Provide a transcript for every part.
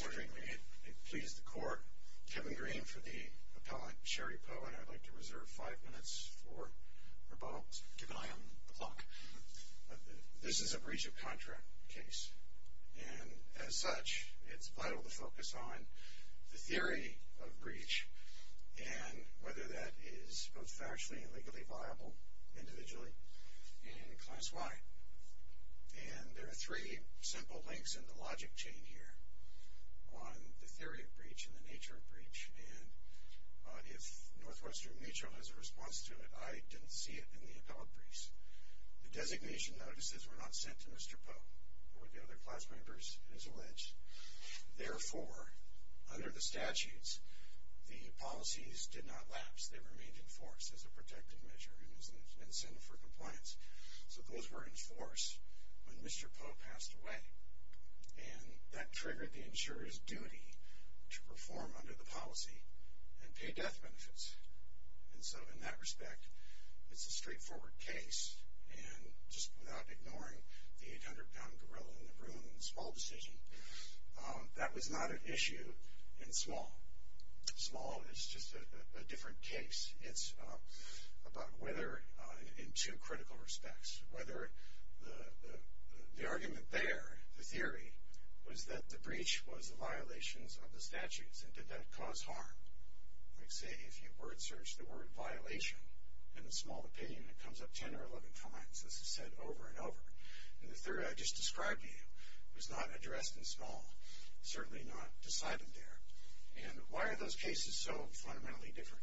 More frequently, it pleases the court, Kevin Green for the appellant, Sherry Poe, and I'd like to reserve five minutes for rebuttals. Keep an eye on the clock. This is a breach of contract case, and as such, it's vital to focus on the theory of breach, and whether that is both factually and legally viable, individually, and class-wide. And there are three simple links in the logic chain here on the theory of breach and the nature of breach, and if Northwestern Mutual has a response to it, I didn't see it in the appellate briefs. The designation notices were not sent to Mr. Poe or the other class members, it is alleged. Therefore, under the statutes, the policies did not lapse. They remained in force as a protective measure and as an incentive for compliance. So those were in force when Mr. Poe passed away, and that triggered the insurer's duty to perform under the policy and pay death benefits. And so, in that respect, it's a straightforward case, and just without ignoring the 800-pound gorilla in the room and the small decision, that was not an issue in small. Small is just a different case. It's about whether, in two critical respects, whether the argument there, the theory, was that the breach was a violation of the statutes, and did that cause harm? Like, say, if you word search the word violation in a small opinion, it comes up 10 or 11 times. This is said over and over. And the theory I just described to you was not addressed in small, certainly not decided there. And why are those cases so fundamentally different?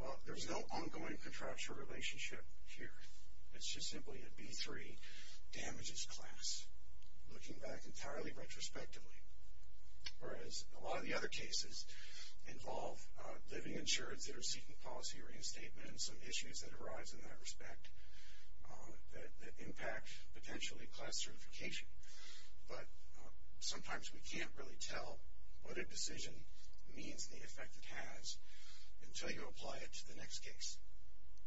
Well, there's no ongoing contractual relationship here. It's just simply a B3 damages class, looking back entirely retrospectively, whereas a lot of the other cases involve living insurance that are seeking policy reinstatement and some issues that arise in that respect that impact, potentially, class certification. But sometimes we can't really tell what a decision means and the effect it has until you apply it to the next case,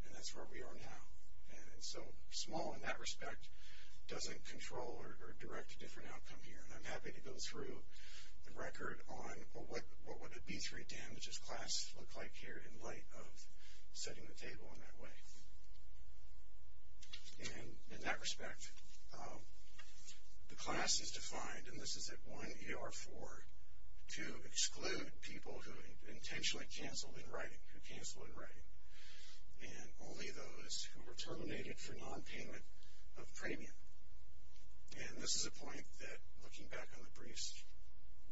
and that's where we are now. And so small, in that respect, doesn't control or direct a different outcome here. And I'm happy to go through the record on what would a B3 damages class look like here in light of setting the table in that way. And in that respect, the class is defined, and this is at 1ER4, to exclude people who intentionally canceled in writing, who canceled in writing, and only those who were terminated for nonpayment of premium. And this is a point that, looking back on the briefs,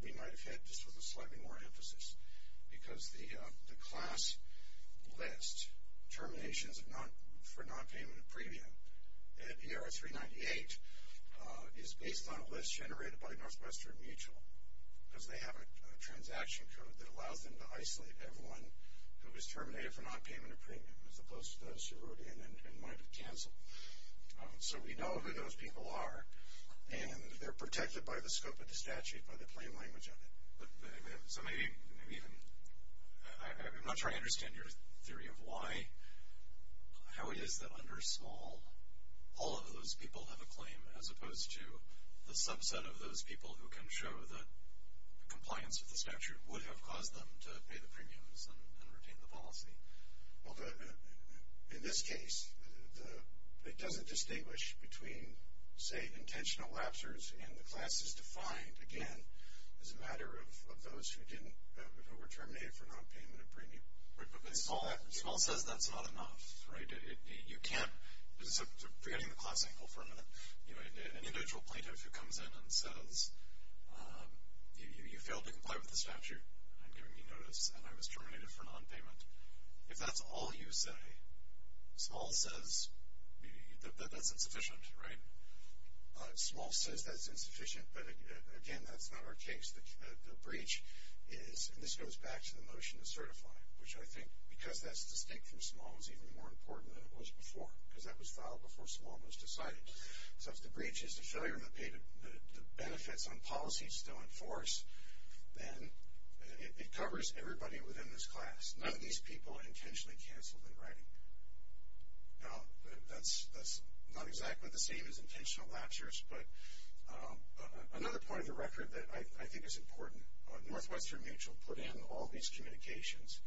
we might have had just with a slightly more emphasis because the class list, terminations for nonpayment of premium at ER398 is based on a list generated by Northwestern Mutual because they have a transaction code that allows them to isolate everyone who was terminated for nonpayment of premium as opposed to those who wrote in and might have canceled. So we know who those people are, and they're protected by the scope of the statute, by the plain language of it. But so maybe even, I'm not trying to understand your theory of why, how it is that under small, all of those people have a claim as opposed to the subset of those people who can show that compliance with the statute would have caused them to pay the premiums and retain the policy. Well, in this case, it doesn't distinguish between, say, intentional lapsers, and the class is defined, again, as a matter of those who were terminated for nonpayment of premium. But small says that's not enough, right? You can't, forgetting the class angle for a minute, an individual plaintiff who comes in and says, you failed to comply with the statute, I'm giving you notice, and I was terminated for nonpayment. If that's all you say, small says that that's insufficient, right? Small says that's insufficient, but again, that's not our case. The breach is, and this goes back to the motion to certify, which I think, because that's distinct from small, is even more important than it was before, because that was filed before small was decided. So if the breach is the failure to pay the benefits on policies still in force, then it covers everybody within this class. None of these people are intentionally canceled in writing. Now, that's not exactly the same as intentional lapsers, but another point of the record that I think is important, Northwestern Mutual put in all these communications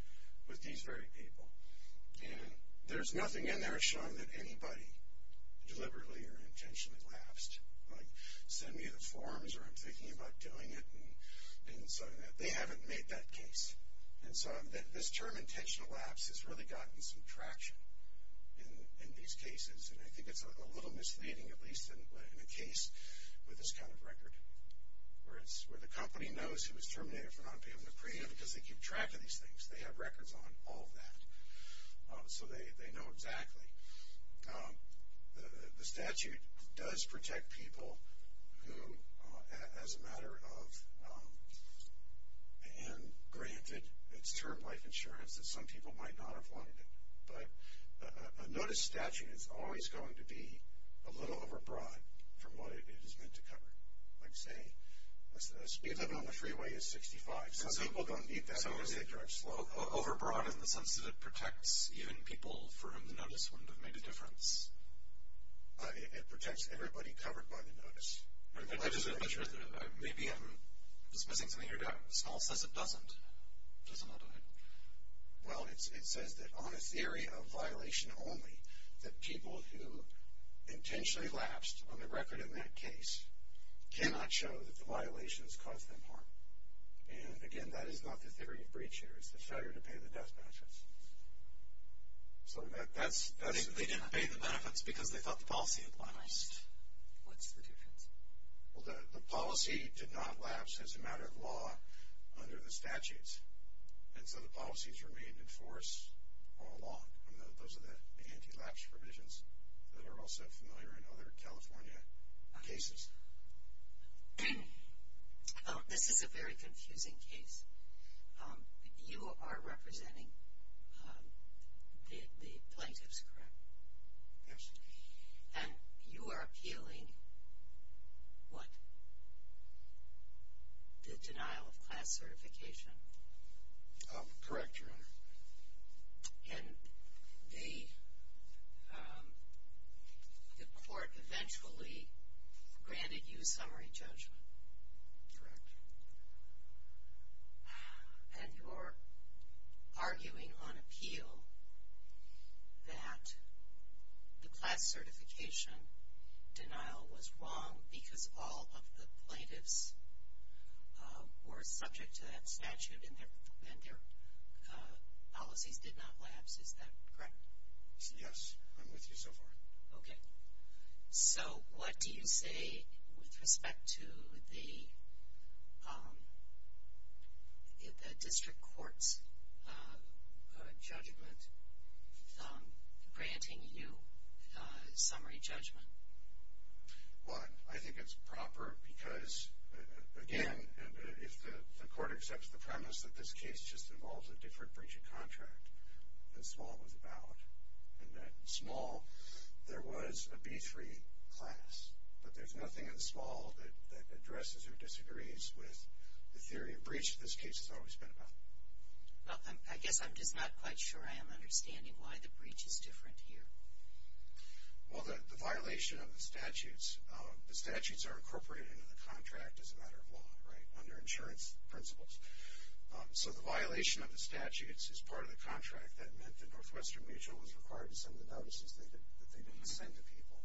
with these very people, and there's nothing in there showing that anybody deliberately or intentionally lapsed. Like, send me the forms, or I'm thinking about doing it, and so they haven't made that case. And so this term intentional lapse has really gotten some traction in these cases, and I think it's a little misleading, at least in a case with this kind of record, where the company knows it was terminated for nonpayment of premium because they keep track of these things. They have records on all of that, so they know exactly. The statute does protect people who, as a matter of, and granted its term life insurance that some people might not have wanted it. But a notice statute is always going to be a little overbroad from what it is meant to cover. Like, say, a speed limit on the freeway is 65. Some people don't need that because they drive slow. Overbroad in the sense that it protects even people for whom the notice wouldn't have made a difference. It protects everybody covered by the notice. Maybe I'm dismissing something you're doing. Small says it doesn't. It doesn't, I'll go ahead. Well, it says that on a theory of violation only, that people who intentionally lapsed on the record in that case cannot show that the violations caused them harm. And, again, that is not the theory of breach here. It's the failure to pay the death benefits. So that's. They didn't pay the benefits because they thought the policy had lapsed. What's the difference? Well, the policy did not lapse as a matter of law under the statutes. And so the policies were made in force all along. Those are the anti-lapse provisions that are also familiar in other California cases. This is a very confusing case. You are representing the plaintiffs, correct? Yes. And you are appealing what? The denial of class certification. Correct, Your Honor. And the court eventually granted you summary judgment. And you're arguing on appeal that the class certification denial was wrong because all of the plaintiffs were subject to that statute and their policies did not lapse, is that correct? Yes. I'm with you so far. Okay. So what do you say with respect to the district court's judgment granting you summary judgment? Well, I think it's proper because, again, if the court accepts the premise that this case just involves a different breach of contract than Small was about and that in Small there was a B3 class, but there's nothing in Small that addresses or disagrees with the theory of breach that this case has always been about. Well, I guess I'm just not quite sure I am understanding why the breach is different here. Well, the violation of the statutes, the statutes are incorporated into the contract as a matter of law, right, under insurance principles. So the violation of the statutes is part of the contract. That meant the Northwestern Mutual was required to send the notices that they didn't send to people.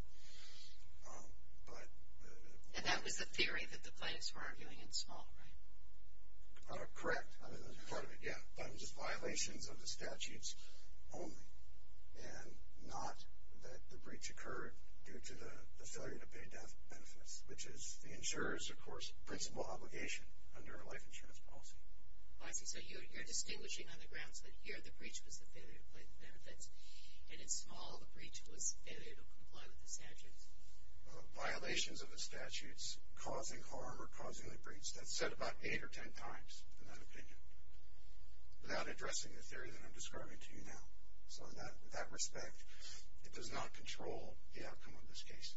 And that was the theory that the plaintiffs were arguing in Small, right? Correct. Part of it, yeah. But it was violations of the statutes only and not that the breach occurred due to the failure to pay death benefits, which is the insurer's, of course, principal obligation under a life insurance policy. I see. So you're distinguishing on the grounds that here the breach was the failure to pay the benefits, and in Small the breach was failure to comply with the statutes. Violations of the statutes causing harm or causing the breach. That's said about eight or ten times in that opinion, without addressing the theory that I'm describing to you now. So in that respect, it does not control the outcome of this case.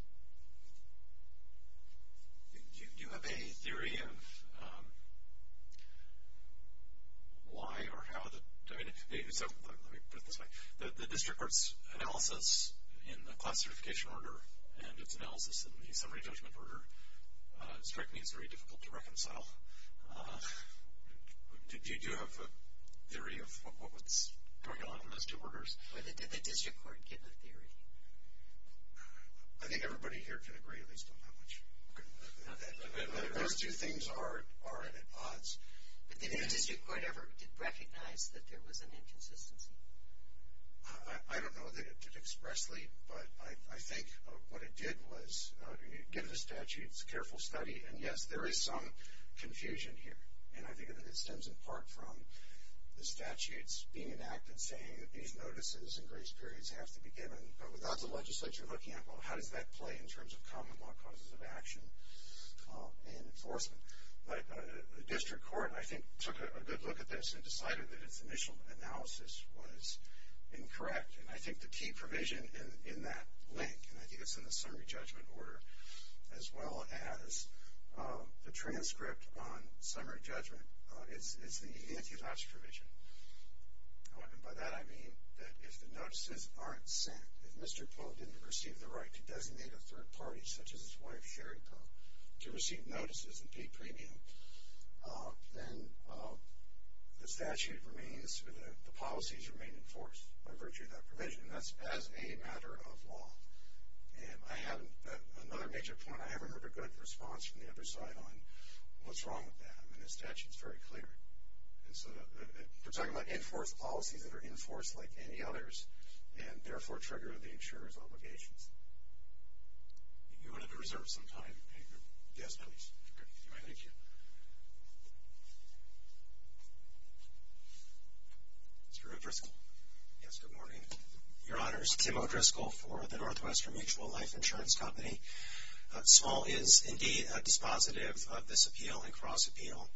Do you have a theory of why or how the, I mean, so let me put it this way. The district court's analysis in the class certification order and its analysis in the summary judgment order struck me as very difficult to reconcile. Do you have a theory of what's going on in those two orders? Or did the district court give a theory? I think everybody here can agree, at least on that much. Those two things are at odds. But did the district court ever recognize that there was an inconsistency? I don't know that it did expressly. But I think what it did was give the statutes a careful study. And, yes, there is some confusion here. And I think that it stems in part from the statutes being enacted saying that these notices and grace periods have to be given. But without the legislature looking at, well, how does that play in terms of common law causes of action and enforcement? The district court, I think, took a good look at this and decided that its initial analysis was incorrect. And I think the key provision in that link, and I think it's in the summary judgment order, as well as the transcript on summary judgment, is the antitrust provision. And by that I mean that if the notices aren't sent, if Mr. Poe didn't receive the right to designate a third party such as his wife, Sherry Poe, to receive notices and pay premium, then the statute remains or the policies remain enforced by virtue of that provision. And that's as a matter of law. And I have another major point. I haven't heard a good response from the other side on what's wrong with that. I mean, the statute is very clear. And so we're talking about enforced policies that are enforced like any others and therefore trigger the insurer's obligations. You wanted to reserve some time. Yes, please. Thank you. Mr. O'Driscoll. Yes, good morning. Your Honors, Tim O'Driscoll for the Northwestern Mutual Life Insurance Company. Small is indeed dispositive of this appeal and cross-appeal.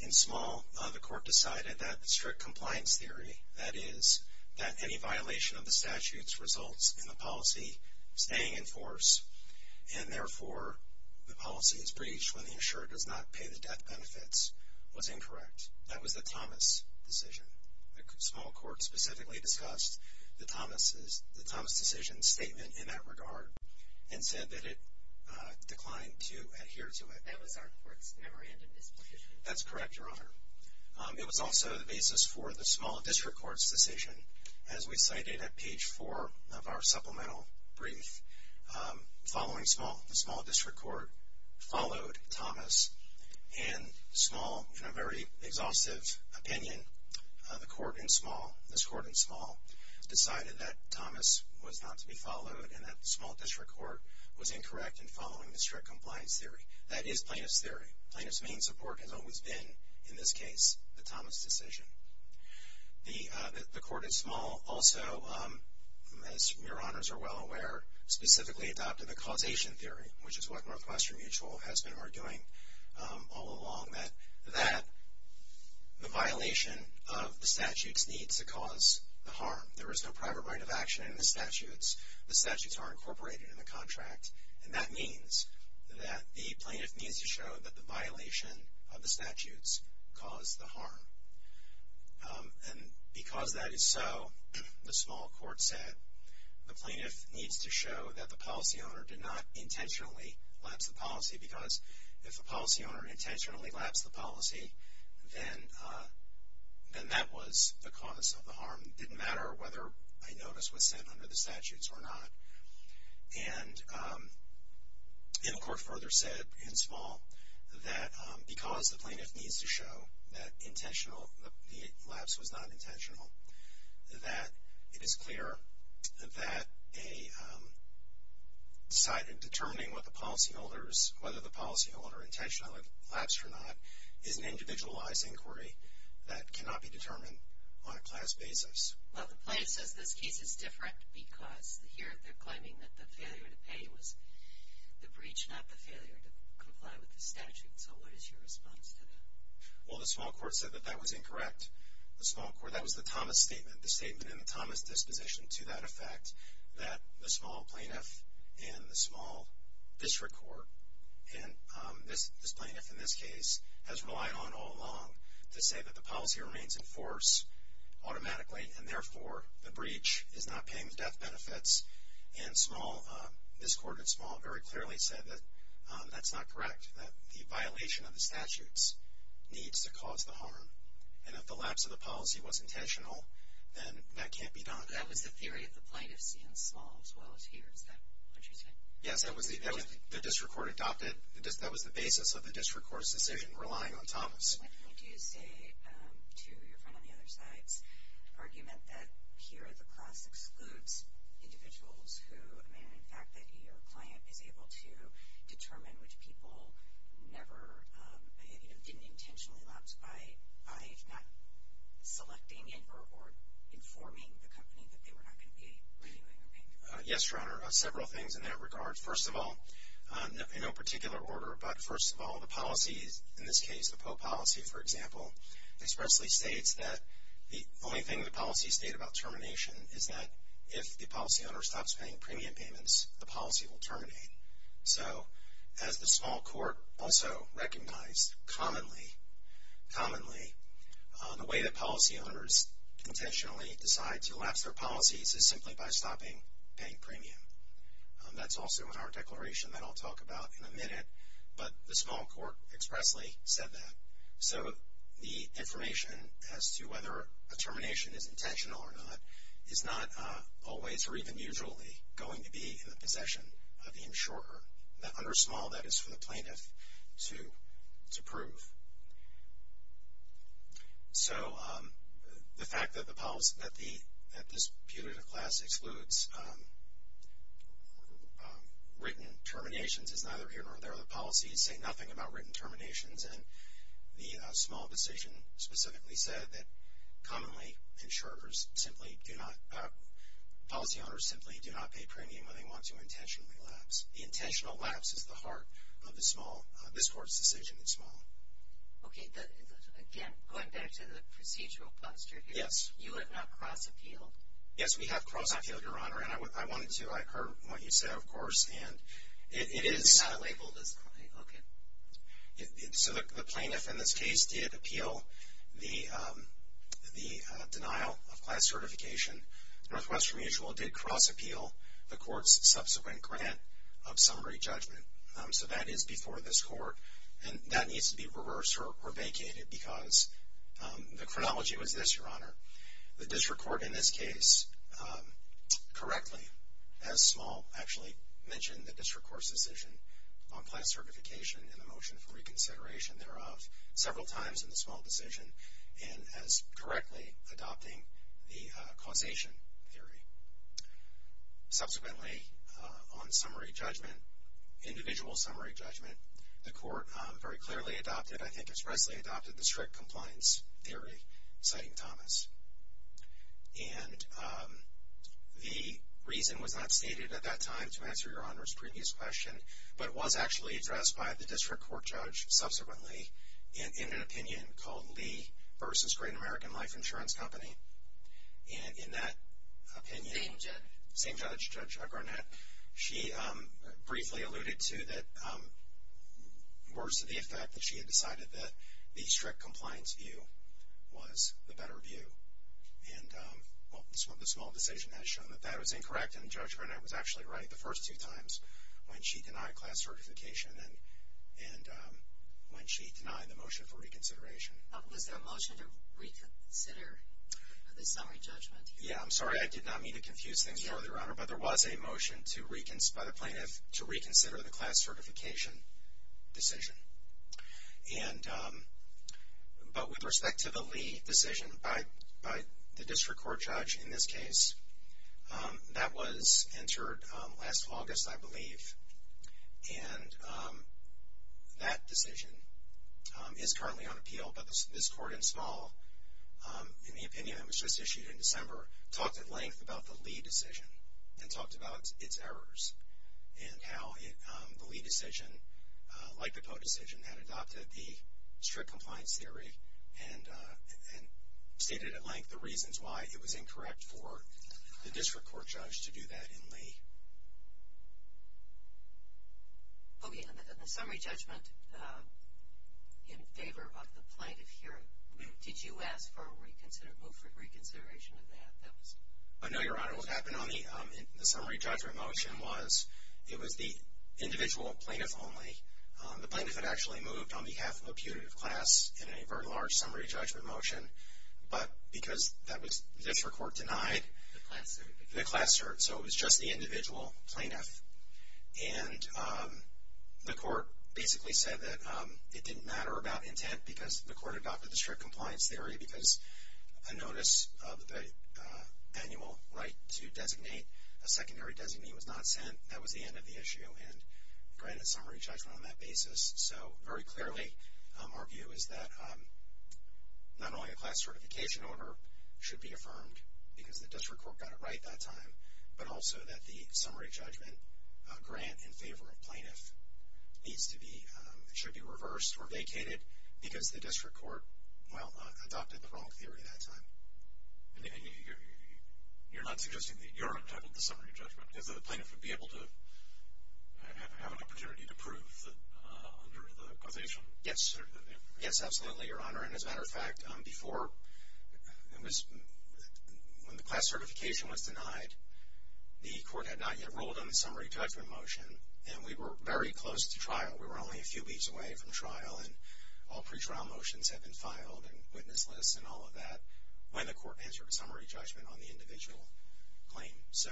In Small, the court decided that strict compliance theory, that is, that any violation of the statute's results in the policy staying in force and therefore the policy is breached when the insurer does not pay the debt benefits, was incorrect. That was the Thomas decision. The Small court specifically discussed the Thomas decision statement in that regard and said that it declined to adhere to it. That was our court's memorandum disposition. That's correct, Your Honor. It was also the basis for the Small District Court's decision. As we cited at page 4 of our supplemental brief, following Small, the Small District Court followed Thomas. And Small, in a very exhaustive opinion, the court in Small, this court in Small, decided that Thomas was not to be followed and that the Small District Court was incorrect in following the strict compliance theory. That is plaintiff's theory. Plaintiff's main support has always been, in this case, the Thomas decision. The court in Small also, as Your Honors are well aware, specifically adopted the causation theory, which is what Northwestern Mutual has been arguing all along, that the violation of the statute's needs to cause the harm. There is no private right of action in the statutes. The statutes are incorporated in the contract, and that means that the plaintiff needs to show that the violation of the statutes caused the harm. And because that is so, the Small court said, the plaintiff needs to show that the policy owner did not intentionally lapse the policy because if the policy owner intentionally lapsed the policy, then that was the cause of the harm. It didn't matter whether a notice was sent under the statutes or not. And the court further said in Small that because the plaintiff needs to show that the lapse was not intentional, that it is clear that determining whether the policy owner intentionally lapsed or not is an individualized inquiry that cannot be determined on a class basis. Well, the plaintiff says this case is different because here they're claiming that the failure to pay was the breach, not the failure to comply with the statute. So what is your response to that? Well, the Small court said that that was incorrect. The Small court, that was the Thomas statement, the statement in the Thomas disposition to that effect, that the Small plaintiff and the Small district court, and this plaintiff in this case has relied on all along to say that the policy remains in force automatically, and therefore the breach is not paying the death benefits. And Small, this court in Small very clearly said that that's not correct, that the violation of the statutes needs to cause the harm. And if the lapse of the policy was intentional, then that can't be done. That was the theory of the plaintiff seeing Small as well as here, is that what you're saying? Yes, that was the district court adopted, that was the basis of the district court's decision relying on Thomas. What can you do to say to your friend on the other side's argument that here the class excludes individuals who, I mean, in fact, that your client is able to determine which people never, you know, didn't intentionally lapse by not selecting or informing the company that they were not going to be renewing or paying? Yes, Your Honor, several things in that regard. First of all, in no particular order, but first of all, the policies, in this case the PO policy, for example, expressly states that the only thing the policies state about termination is that if the policy owner stops paying premium payments, the policy will terminate. So as the Small court also recognized commonly, commonly, the way that policy owners intentionally decide to lapse their policies is simply by stopping paying premium. That's also in our declaration that I'll talk about in a minute, but the Small court expressly said that. So the information as to whether a termination is intentional or not is not always or even usually going to be in the possession of the insurer. Under Small, that is for the plaintiff to prove. So the fact that this punitive class excludes written terminations is neither here nor there. The policies say nothing about written terminations, and the Small decision specifically said that commonly insurers simply do not, policy owners simply do not pay premium when they want to intentionally lapse. The intentional lapse is the heart of the Small, this court's decision in Small. Okay. Again, going back to the procedural posture here. Yes. You have not cross-appealed. Yes, we have cross-appealed, Your Honor, and I wanted to. I heard what you said, of course, and it is. It is not labeled as. Okay. So the plaintiff in this case did appeal the denial of class certification. Northwestern Mutual did cross-appeal the court's subsequent grant of summary judgment. So that is before this court, and that needs to be reversed or vacated because the chronology was this, Your Honor. The district court in this case correctly, as Small actually mentioned, the district court's decision on class certification and the motion for reconsideration thereof several times in the Small decision and as directly adopting the causation theory. Subsequently, on summary judgment, individual summary judgment, the court very clearly adopted, I think expressly adopted, the strict compliance theory, citing Thomas. And the reason was not stated at that time to answer Your Honor's previous question, but it was actually addressed by the district court judge subsequently in an opinion called Lee v. Great American Life Insurance Company. And in that opinion, same judge, Judge Garnett, she briefly alluded to that words to the effect that she had decided that the strict compliance view was the better view. And the Small decision has shown that that was incorrect, and Judge Garnett was actually right the first two times when she denied class certification and when she denied the motion for reconsideration. Was there a motion to reconsider the summary judgment? Yeah, I'm sorry, I did not mean to confuse things further, Your Honor, but there was a motion by the plaintiff to reconsider the class certification decision. But with respect to the Lee decision by the district court judge in this case, that was entered last August, I believe, and that decision is currently on appeal, but this court in Small, in the opinion that was just issued in December, talked at length about the Lee decision and talked about its errors and how the Lee decision, like the Poe decision, had adopted the strict compliance theory and stated at length the reasons why it was incorrect for the district court judge to do that in Lee. Okay, and the summary judgment in favor of the plaintiff here, did you ask for a reconsideration of that? No, Your Honor, what happened on the summary judgment motion was, it was the individual plaintiff only. The plaintiff had actually moved on behalf of a putative class in a very large summary judgment motion, but because district court denied the class cert, so it was just the individual plaintiff, and the court basically said that it didn't matter about intent because the court adopted the strict compliance theory because a notice of the annual right to designate a secondary designee was not sent. That was the end of the issue and granted summary judgment on that basis. So very clearly, our view is that not only a class certification order should be affirmed because the district court got it right that time, but also that the summary judgment grant in favor of plaintiff needs to be, should be reversed or vacated because the district court, well, adopted the wrong theory that time. And you're not suggesting that Your Honor titled the summary judgment because the plaintiff would be able to have an opportunity to prove under the causation? Yes. Yes, absolutely, Your Honor. And as a matter of fact, before it was, when the class certification was denied, the court had not yet rolled on the summary judgment motion, and we were very close to trial. We were only a few weeks away from trial, and all pretrial motions have been filed and witness lists and all of that when the court answered summary judgment on the individual claim. So,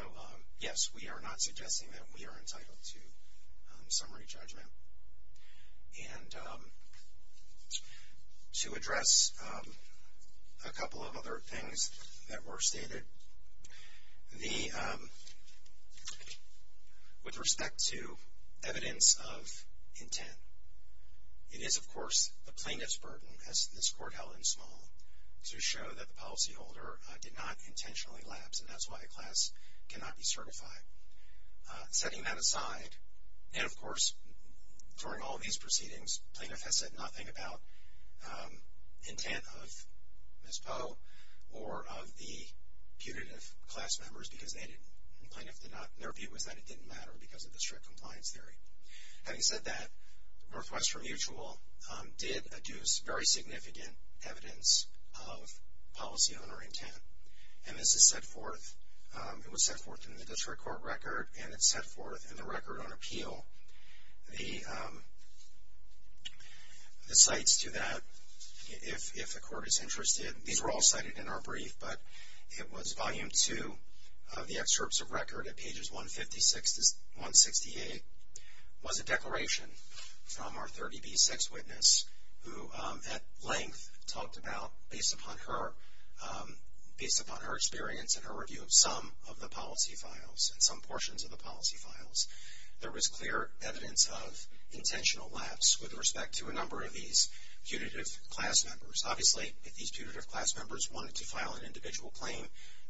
yes, we are not suggesting that we are entitled to summary judgment. And to address a couple of other things that were stated, the, with respect to evidence of intent, it is, of course, the plaintiff's burden, as this court held in small, to show that the policyholder did not intentionally lapse, and that's why the class cannot be certified. Setting that aside, and, of course, during all of these proceedings, plaintiff has said nothing about intent of Ms. Poe or of the punitive class members because they didn't, the plaintiff did not, their view was that it didn't matter because of the strict compliance theory. Having said that, Northwestern Mutual did adduce very significant evidence of policyholder intent, and this is set forth, it was set forth in the district court record, and it's set forth in the record on appeal. The cites to that, if the court is interested, these were all cited in our brief, but it was volume two of the excerpts of record at pages 156 to 168 was a declaration from our 30B sex witness who, at length, talked about, based upon her, based upon her experience and her review of some of the policy files and some portions of the policy files, there was clear evidence of intentional lapse with respect to a number of these punitive class members. Obviously, if these punitive class members wanted to file an individual claim,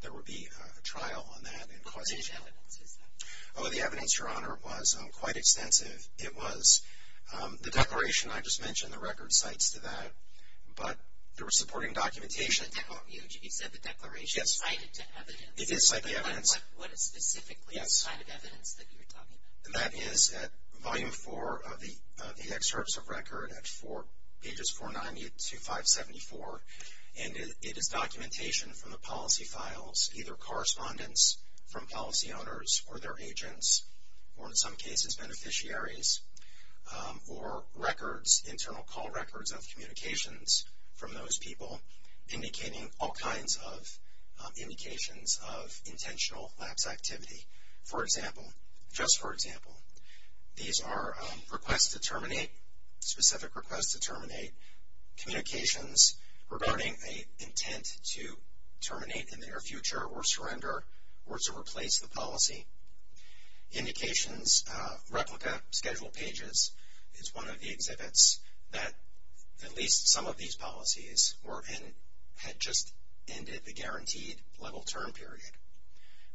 there would be a trial on that. Which evidence is that? Oh, the evidence, Your Honor, was quite extensive. It was. The declaration I just mentioned, the record cites to that, but there was supporting documentation. You said the declaration is cited to evidence. It is cited to evidence. What is specifically the kind of evidence that you're talking about? That is at volume four of the excerpts of record at pages 490 to 574, and it is documentation from the policy files, either correspondence from policy owners or their agents, or in some cases beneficiaries, or records, internal call records of communications from those people, indicating all kinds of indications of intentional lapse activity. For example, just for example, these are requests to terminate, specific requests to terminate, communications regarding an intent to terminate in the near future or surrender or to replace the policy. Indications, replica, scheduled pages is one of the exhibits that at least some of these policies had just ended the guaranteed level term period.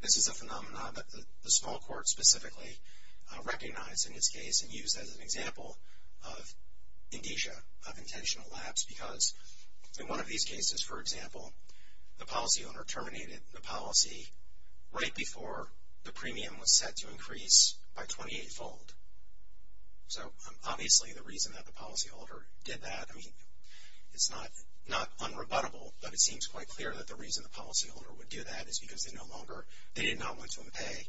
This is a phenomenon that the small court specifically recognized in this case and used as an example of indicia, of intentional lapse, because in one of these cases, for example, the policy owner terminated the policy right before the premium was set to increase by 28-fold. So obviously the reason that the policy holder did that, I mean, it's not unrebuttable, but it seems quite clear that the reason the policy holder would do that is because they no longer, they did not want to pay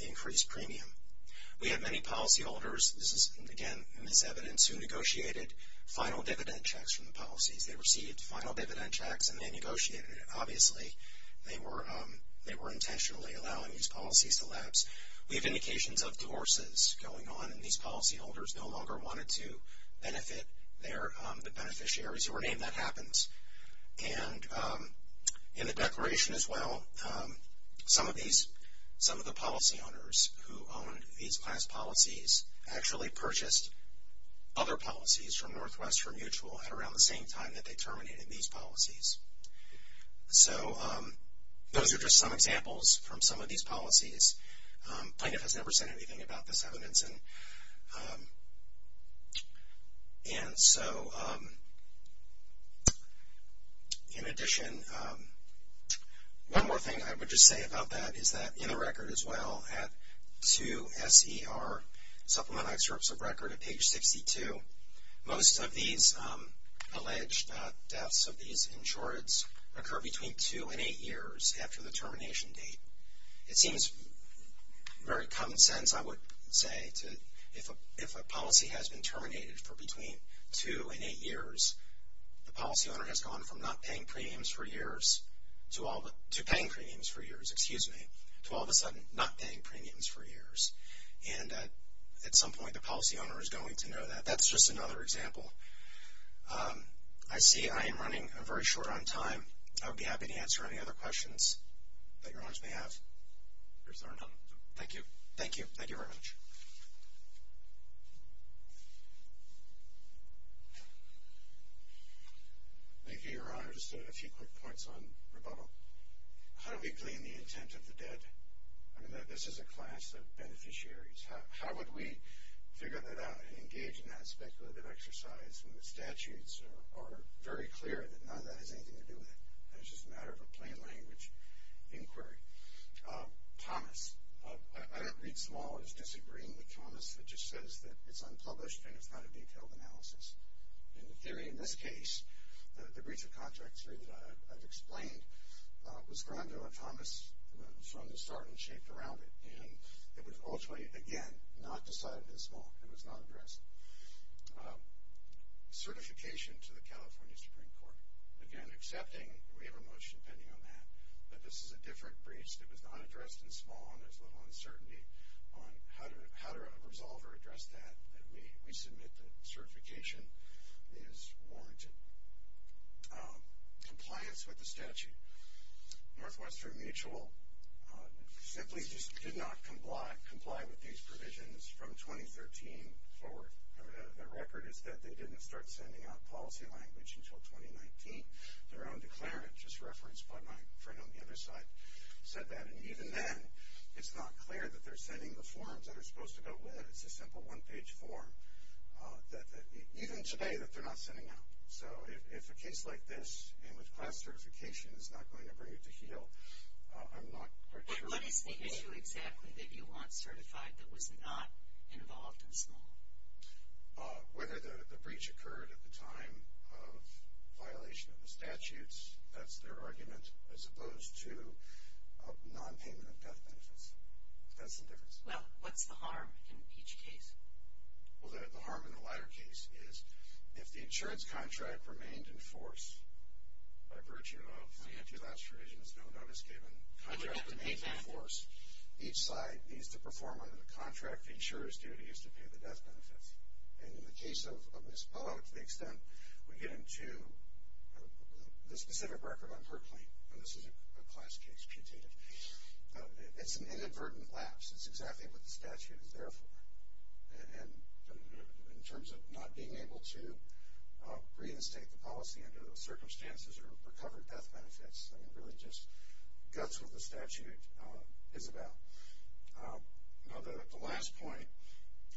the increased premium. We have many policy holders, this is, again, in this evidence, who negotiated final dividend checks from the policies. They received final dividend checks and they negotiated it. So obviously they were intentionally allowing these policies to lapse. We have indications of divorces going on, and these policy holders no longer wanted to benefit the beneficiaries who were named. That happens. And in the declaration as well, some of the policy owners who owned these class policies actually purchased other policies from Northwest for mutual at around the same time that they terminated these policies. So those are just some examples from some of these policies. Plaintiff has never said anything about this evidence. And so in addition, one more thing I would just say about that is that in the record as well, at 2SER, Supplemental Excerpts of Record at page 62, most of these alleged deaths of these insureds occur between two and eight years after the termination date. It seems very common sense, I would say, if a policy has been terminated for between two and eight years, the policy owner has gone from not paying premiums for years to paying premiums for years, excuse me, to all of a sudden not paying premiums for years. And at some point the policy owner is going to know that. That's just another example. I see I am running very short on time. I would be happy to answer any other questions that your Honors may have. Thank you. Thank you. Thank you very much. Thank you, Your Honor. Just a few quick points on rebuttal. How do we claim the intent of the dead? I mean, this is a class of beneficiaries. How would we figure that out and engage in that speculative exercise when the statutes are very clear that none of that has anything to do with it and it's just a matter of a plain language inquiry? Thomas. I don't read small. I was disagreeing with Thomas that just says that it's unpublished and it's not a detailed analysis. In theory, in this case, the breach of contract three that I've explained was grounded on Thomas from the start and shaped around it. And it was ultimately, again, not decided in small. It was not addressed. Certification to the California Supreme Court. Again, accepting we have a motion pending on that, but this is a different breach that was not addressed in small and there's little uncertainty on how to resolve or address that. We submit that certification is warranted. Compliance with the statute. Northwestern Mutual simply did not comply with these provisions from 2013 forward. The record is that they didn't start sending out policy language until 2019. Their own declarant, just referenced by my friend on the other side, said that. And even then, it's not clear that they're sending the forms that are supposed to go with it. It's a simple one-page form, even today, that they're not sending out. So if a case like this, and with class certification, is not going to bring it to heel, I'm not quite sure. But what is the issue exactly that you want certified that was not involved in small? Whether the breach occurred at the time of violation of the statutes, that's their argument, as opposed to non-payment of death benefits. That's the difference. Well, what's the harm in each case? Well, the harm in the latter case is, if the insurance contract remained in force, by virtue of the anti-lapse provisions, no notice given, contract remains in force, each side needs to perform under the contract the insurer's duty is to pay the death benefits. And in the case of this, to the extent we get into the specific record on Herklane, and this is a class case, putative, it's an inadvertent lapse. It's exactly what the statute is there for. And in terms of not being able to reinstate the policy under those circumstances or recover death benefits, I mean, really just guts with the statute is about. Now, the last point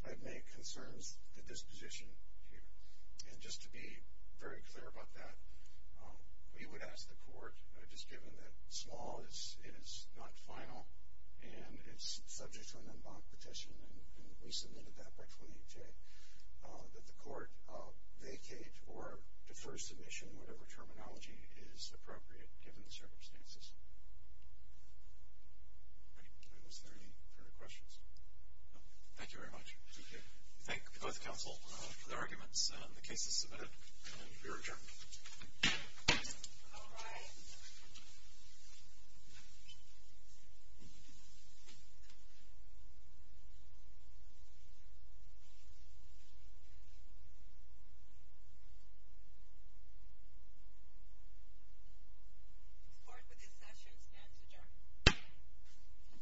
I'd make concerns the disposition here. And just to be very clear about that, we would ask the court, just given that small is not final and it's subject to an en banc petition, and we submitted that by 28-J, that the court vacate or defer submission, whatever terminology is appropriate, given the circumstances. Are there any further questions? No. Thank you very much. Thank you. The case is submitted. You're adjourned. All rise. The court for this session stands adjourned.